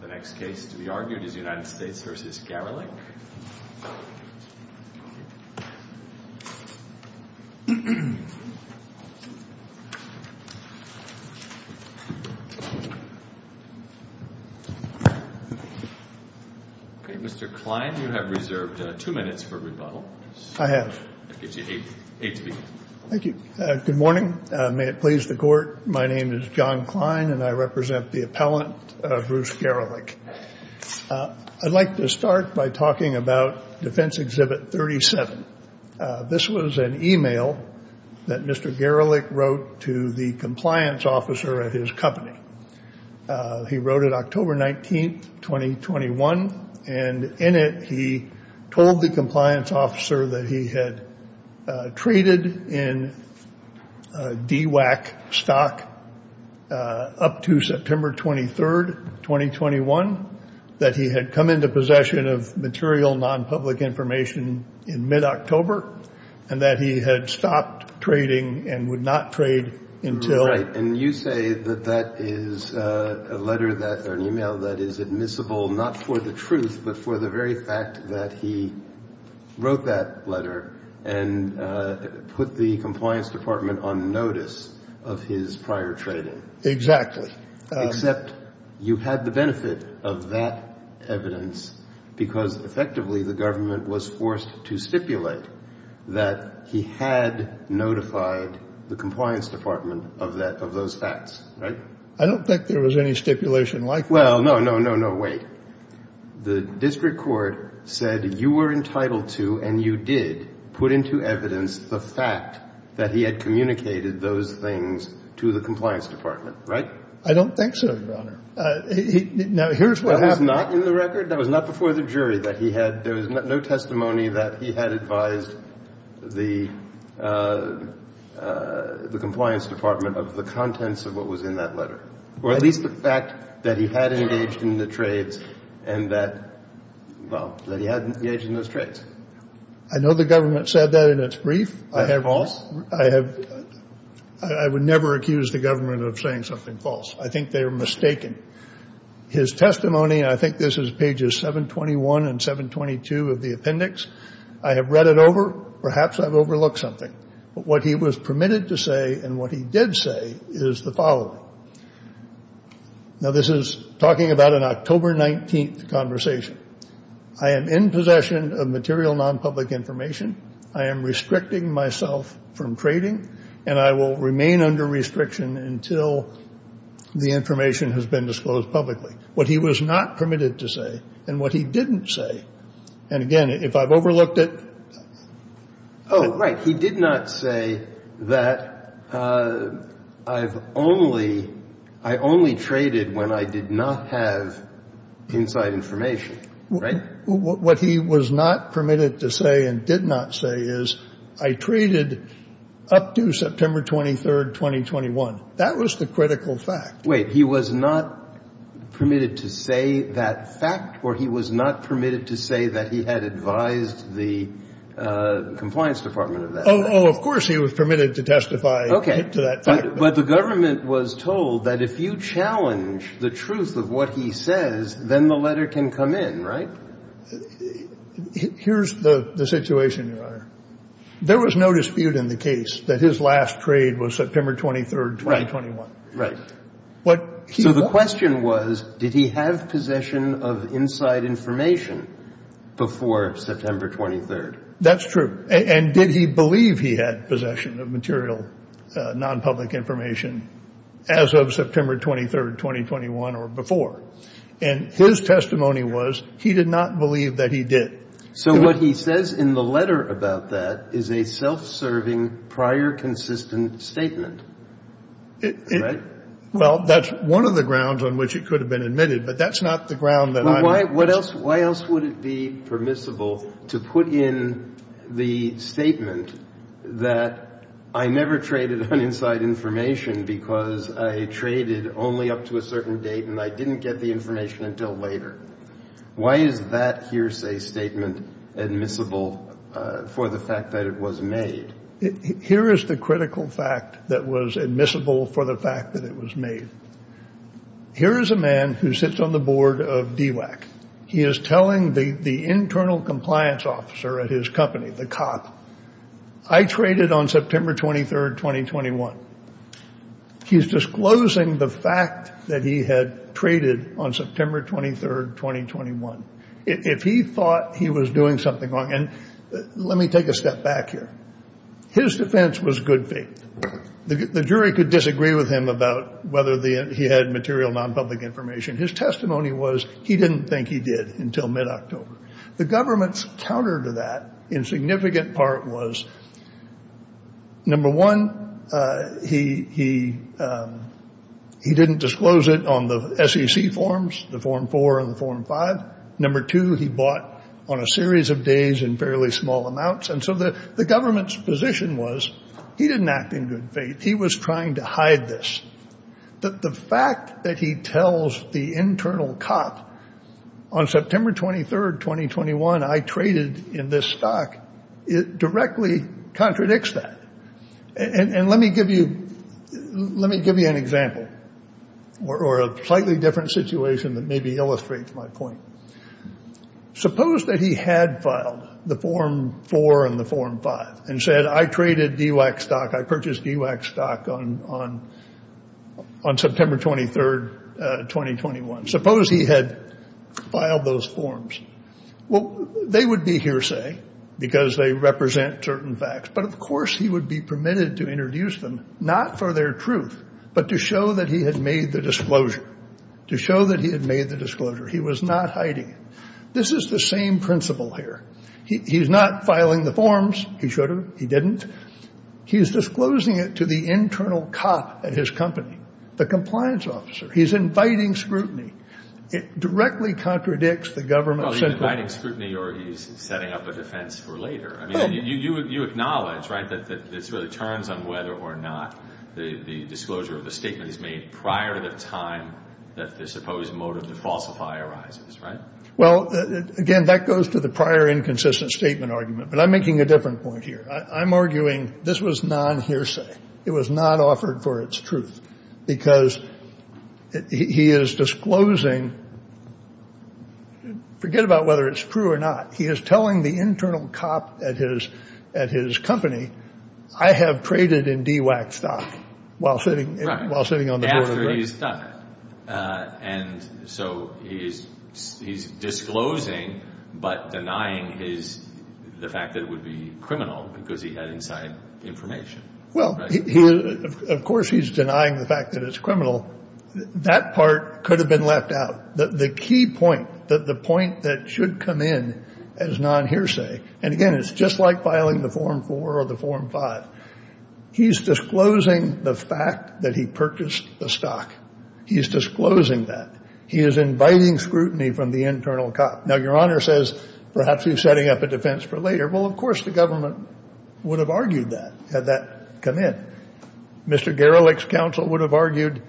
The next case to be argued is United States v. Garelick. Mr. Klein, you have reserved two minutes for rebuttal. I have. That gives you eight to begin. Thank you. Good morning. May it please the Court. My name is John Klein, and I represent the appellant, Bruce Garelick. I'd like to start by talking about Defense Exhibit 37. This was an e-mail that Mr. Garelick wrote to the compliance officer at his company. He wrote it October 19, 2021. And in it, he told the compliance officer that he had traded in DWAC stock up to September 23, 2021, that he had come into possession of material non-public information in mid-October, and that he had stopped trading and would not trade until... Right. And you say that that is a letter that or an e-mail that is admissible not for the truth, but for the very fact that he wrote that letter and put the compliance department on notice of his prior trading. Exactly. Except you had the benefit of that evidence because, effectively, the government was forced to stipulate that he had notified the compliance department of that, of those facts. Right? I don't think there was any stipulation like that. Well, no, no, no, no. Wait. The district court said you were entitled to and you did put into evidence the fact that he had communicated those things to the compliance department. Right? I don't think so, Your Honor. Now, here's what happened. That was not in the record. That was not before the jury that he had. There was no testimony that he had advised the compliance department of the contents of what was in that letter, or at least the fact that he had engaged in the trades and that, well, that he had engaged in those trades. I know the government said that in its brief. That's false. I would never accuse the government of saying something false. I think they are mistaken. His testimony, I think this is pages 721 and 722 of the appendix. I have read it over. Perhaps I've overlooked something. But what he was permitted to say and what he did say is the following. Now, this is talking about an October 19th conversation. I am in possession of material nonpublic information. I am restricting myself from trading. And I will remain under restriction until the information has been disclosed publicly. What he was not permitted to say and what he didn't say, and, again, if I've overlooked it. Oh, right. He did not say that I've only – I only traded when I did not have inside information. Right? What he was not permitted to say and did not say is I traded up to September 23rd, 2021. That was the critical fact. Wait. He was not permitted to say that fact or he was not permitted to say that he had advised the compliance department of that? Oh, of course he was permitted to testify to that fact. But the government was told that if you challenge the truth of what he says, then the letter can come in, right? Here's the situation, Your Honor. There was no dispute in the case that his last trade was September 23rd, 2021. Right. So the question was, did he have possession of inside information before September 23rd? That's true. And did he believe he had possession of material nonpublic information as of September 23rd, 2021 or before? And his testimony was he did not believe that he did. So what he says in the letter about that is a self-serving, prior consistent statement. Right? Well, that's one of the grounds on which it could have been admitted, but that's not the ground that I'm – Why else would it be permissible to put in the statement that I never traded on inside information because I traded only up to a certain date and I didn't get the information until later? Why is that hearsay statement admissible for the fact that it was made? Here is the critical fact that was admissible for the fact that it was made. Here is a man who sits on the board of DWACC. He is telling the internal compliance officer at his company, the cop, I traded on September 23rd, 2021. He's disclosing the fact that he had traded on September 23rd, 2021. If he thought he was doing something wrong – and let me take a step back here. His defense was good faith. The jury could disagree with him about whether he had material non-public information. His testimony was he didn't think he did until mid-October. The government's counter to that in significant part was, number one, he didn't disclose it on the SEC forms, the Form 4 and the Form 5. Number two, he bought on a series of days in fairly small amounts. And so the government's position was he didn't act in good faith. He was trying to hide this. The fact that he tells the internal cop on September 23rd, 2021, I traded in this stock, it directly contradicts that. And let me give you an example or a slightly different situation that maybe illustrates my point. Suppose that he had filed the Form 4 and the Form 5 and said, I traded DWAC stock. I purchased DWAC stock on September 23rd, 2021. Suppose he had filed those forms. Well, they would be hearsay because they represent certain facts. But, of course, he would be permitted to introduce them, not for their truth, but to show that he had made the disclosure, to show that he had made the disclosure. He was not hiding it. This is the same principle here. He's not filing the forms. He should have. He didn't. He's disclosing it to the internal cop at his company, the compliance officer. He's inviting scrutiny. It directly contradicts the government's input. Well, he's inviting scrutiny or he's setting up a defense for later. I mean, you acknowledge, right, that this really turns on whether or not the disclosure of the statement is made prior to the time that the supposed motive to falsify arises, right? Well, again, that goes to the prior inconsistent statement argument, but I'm making a different point here. I'm arguing this was non-hearsay. It was not offered for its truth because he is disclosing. Forget about whether it's true or not. He is telling the internal cop at his company, I have traded in DWAC stock while sitting on the board of directors. Right, after he's done it. And so he's disclosing but denying the fact that it would be criminal because he had inside information. Well, of course he's denying the fact that it's criminal. That part could have been left out. The key point, the point that should come in as non-hearsay, and, again, it's just like filing the Form 4 or the Form 5. He's disclosing the fact that he purchased the stock. He's disclosing that. He is inviting scrutiny from the internal cop. Now, Your Honor says perhaps he's setting up a defense for later. Well, of course the government would have argued that had that come in. Mr. Gerlich's counsel would have argued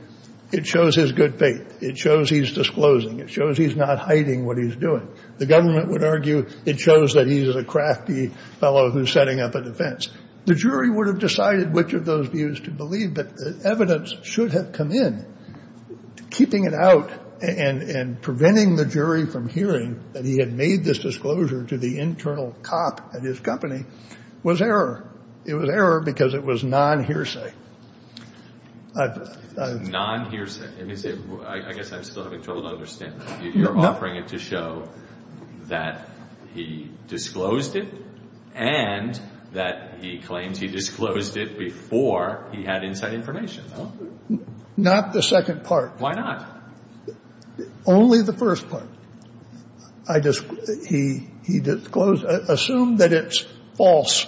it shows his good faith. It shows he's disclosing. It shows he's not hiding what he's doing. The government would argue it shows that he's a crafty fellow who's setting up a defense. The jury would have decided which of those views to believe, but evidence should have come in. Keeping it out and preventing the jury from hearing that he had made this disclosure to the internal cop at his company was error. It was error because it was non-hearsay. Non-hearsay. Let me say, I guess I'm still having trouble to understand. You're offering it to show that he disclosed it and that he claims he disclosed it before he had inside information. Not the second part. Why not? Only the first part. He disclosed. Assume that it's false.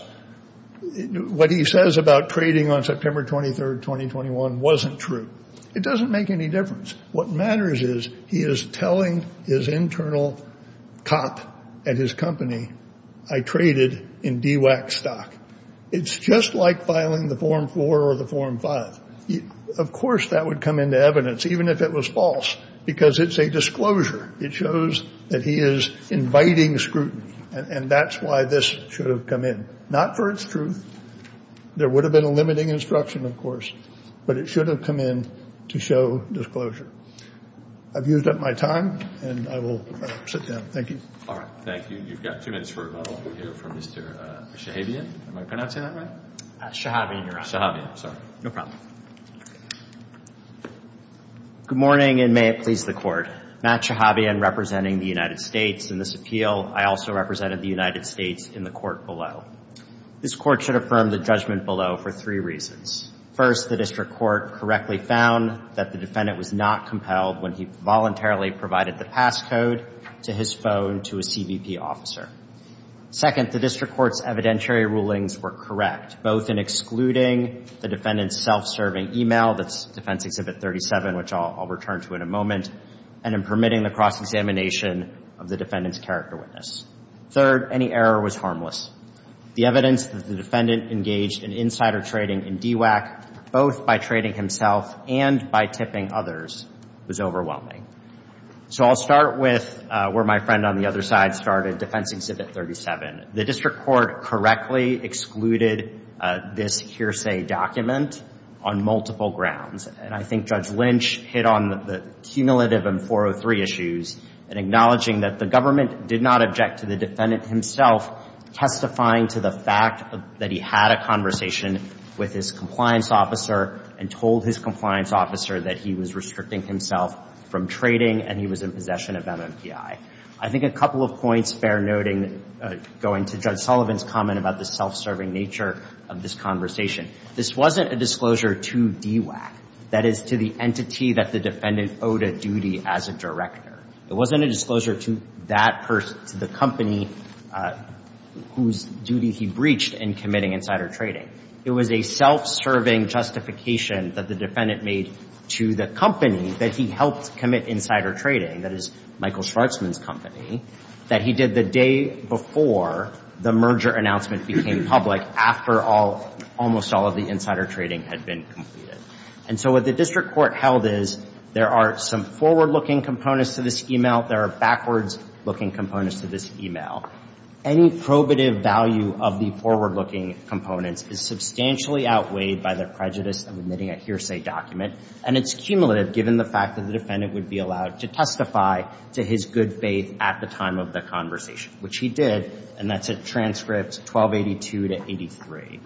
What he says about trading on September 23rd, 2021 wasn't true. It doesn't make any difference. What matters is he is telling his internal cop at his company, I traded in DWAC stock. It's just like filing the Form 4 or the Form 5. Of course that would come into evidence, even if it was false, because it's a disclosure. It shows that he is inviting scrutiny, and that's why this should have come in. Not for its truth. There would have been a limiting instruction, of course, but it should have come in to show disclosure. I've used up my time, and I will sit down. Thank you. All right. Thank you. You've got two minutes for rebuttal here from Mr. Shahabian. Am I pronouncing that right? Shahabian, Your Honor. Shahabian, sorry. No problem. Good morning, and may it please the Court. Matt Shahabian representing the United States in this appeal. I also represented the United States in the court below. This court should affirm the judgment below for three reasons. First, the district court correctly found that the defendant was not compelled when he voluntarily provided the passcode to his phone to a CBP officer. Second, the district court's evidentiary rulings were correct, both in excluding the defendant's self-serving email, that's Defense Exhibit 37, which I'll return to in a moment, and in permitting the cross-examination of the defendant's character witness. Third, any error was harmless. The evidence that the defendant engaged in insider trading in DWACC, both by trading himself and by tipping others, was overwhelming. So I'll start with where my friend on the other side started, Defense Exhibit 37. The district court correctly excluded this hearsay document on multiple grounds, and I think Judge Lynch hit on the cumulative M403 issues in acknowledging that the government did not object to the defendant himself testifying to the fact that he had a conversation with his compliance officer and told his compliance officer that he was restricting himself from trading and he was in possession of MMPI. I think a couple of points, fair noting, going to Judge Sullivan's comment about the self-serving nature of this conversation. This wasn't a disclosure to DWACC, that is to the entity that the defendant owed a duty as a director. It wasn't a disclosure to that person, to the company, whose duty he breached in committing insider trading. It was a self-serving justification that the defendant made to the company that he helped commit insider trading, that is Michael Schwarzman's company, that he did the day before the merger announcement became public after almost all of the insider trading had been completed. And so what the district court held is there are some forward-looking components to this e-mail, there are backwards-looking components to this e-mail. Any probative value of the forward-looking components is substantially outweighed by the prejudice of admitting a hearsay document, and it's cumulative given the fact that the defendant would be allowed to testify to his good faith at the time of the conversation, which he did, and that's at transcript 1282 to 83.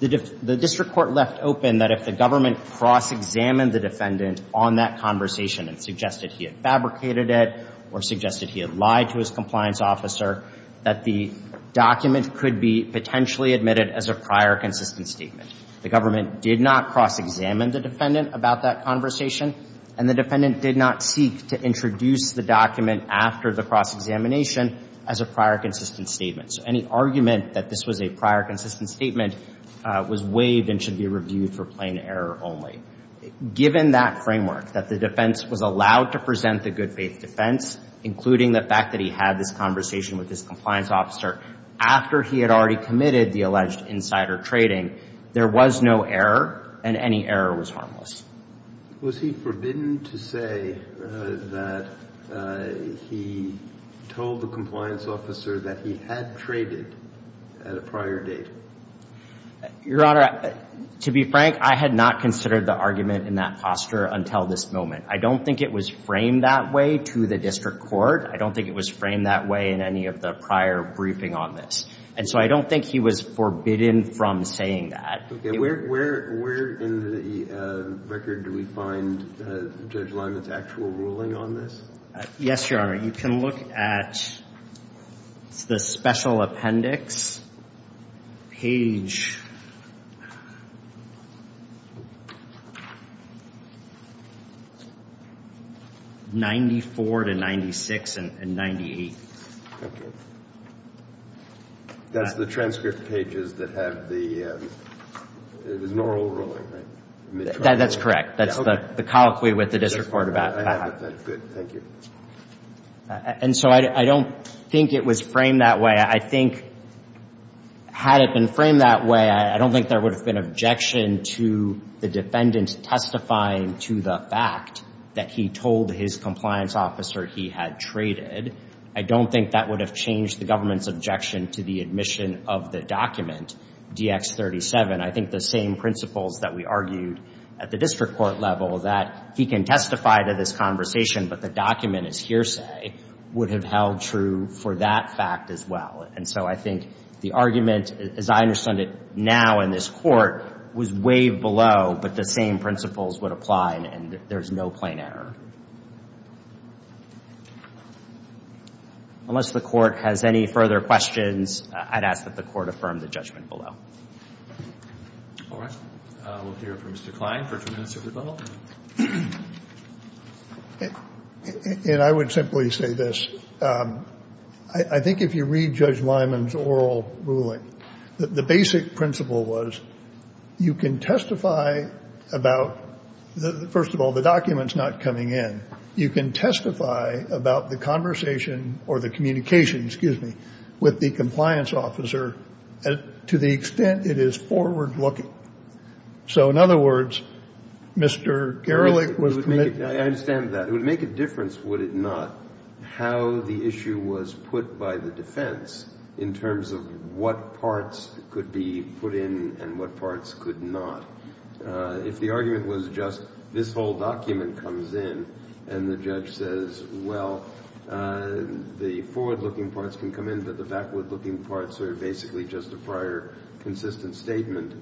The district court left open that if the government cross-examined the defendant on that conversation and suggested he had fabricated it or suggested he had lied to his compliance officer, that the document could be potentially admitted as a prior consistent statement. The government did not cross-examine the defendant about that conversation, and the defendant did not seek to introduce the document after the cross-examination as a prior consistent statement. So any argument that this was a prior consistent statement was waived and should be reviewed for plain error only. Given that framework, that the defense was allowed to present the good faith defense, including the fact that he had this conversation with his compliance officer after he had already committed the alleged insider trading, there was no error, and any error was harmless. Was he forbidden to say that he told the compliance officer that he had traded at a prior date? Your Honor, to be frank, I had not considered the argument in that posture until this moment. I don't think it was framed that way to the district court. I don't think it was framed that way in any of the prior briefing on this. And so I don't think he was forbidden from saying that. Okay. Where in the record do we find Judge Lyman's actual ruling on this? Yes, Your Honor. You can look at the special appendix, page 94 to 96 and 98. Okay. That's the transcript pages that have the oral ruling, right? That's correct. That's the colloquy with the district court about that. Good. Thank you. And so I don't think it was framed that way. I think had it been framed that way, I don't think there would have been objection to the defendant testifying to the fact that he told his compliance officer he had traded. I don't think that would have changed the government's objection to the admission of the document, DX-37. I think the same principles that we argued at the district court level, that he can testify to this conversation, but the document is hearsay, would have held true for that fact as well. And so I think the argument, as I understand it now in this court, was way below, but the same principles would apply and there's no plain error. Unless the court has any further questions, I'd ask that the court affirm the judgment below. All right. We'll hear from Mr. Klein for two minutes of rebuttal. And I would simply say this. I think if you read Judge Lyman's oral ruling, the basic principle was you can testify about, first of all, the document's not coming in. You can testify about the conversation or the communication, excuse me, with the compliance officer to the extent it is forward-looking. So in other words, Mr. Gerlich was committed to this. I understand that. It would make a difference, would it not, how the issue was put by the defense in terms of what parts could be put in and what parts could not. If the argument was just this whole document comes in and the judge says, well, the forward-looking parts can come in, but the backward-looking parts are basically just a prior consistent statement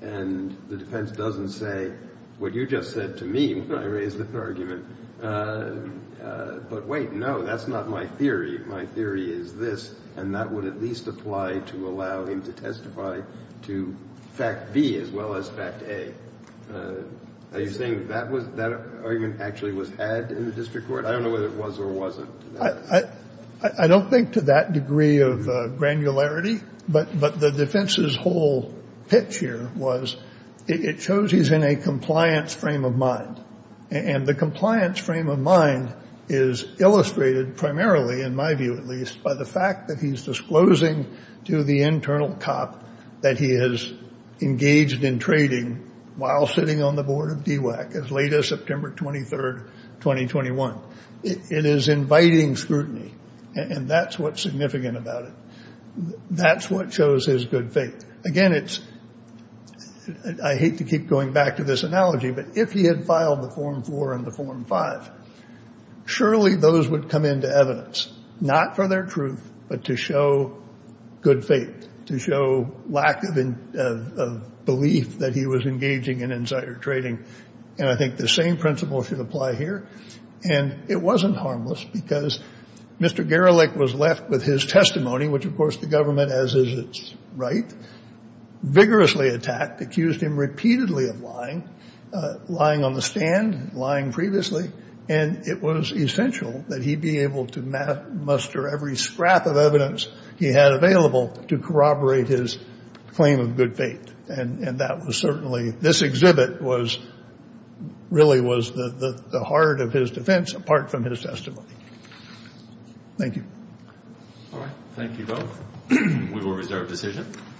and the defense doesn't say what you just said to me when I raised that argument. But wait, no, that's not my theory. My theory is this. And that would at least apply to allow him to testify to fact B as well as fact A. Are you saying that that argument actually was had in the district court? I don't know whether it was or wasn't. I don't think to that degree of granularity. But the defense's whole pitch here was it shows he's in a compliance frame of mind. And the compliance frame of mind is illustrated primarily, in my view at least, by the fact that he's disclosing to the internal cop that he has engaged in trading while sitting on the board of DWACC as late as September 23, 2021. It is inviting scrutiny, and that's what's significant about it. That's what shows his good faith. Again, I hate to keep going back to this analogy, but if he had filed the Form 4 and the Form 5, surely those would come into evidence, not for their truth but to show good faith, to show lack of belief that he was engaging in insider trading. And I think the same principle should apply here. And it wasn't harmless because Mr. Garalick was left with his testimony, which of course the government, as is its right, vigorously attacked, accused him repeatedly of lying, lying on the stand, lying previously. And it was essential that he be able to muster every scrap of evidence he had available to corroborate his claim of good faith. And that was certainly, this exhibit really was the heart of his defense, apart from his testimony. Thank you. All right. Thank you both. We will reserve decision.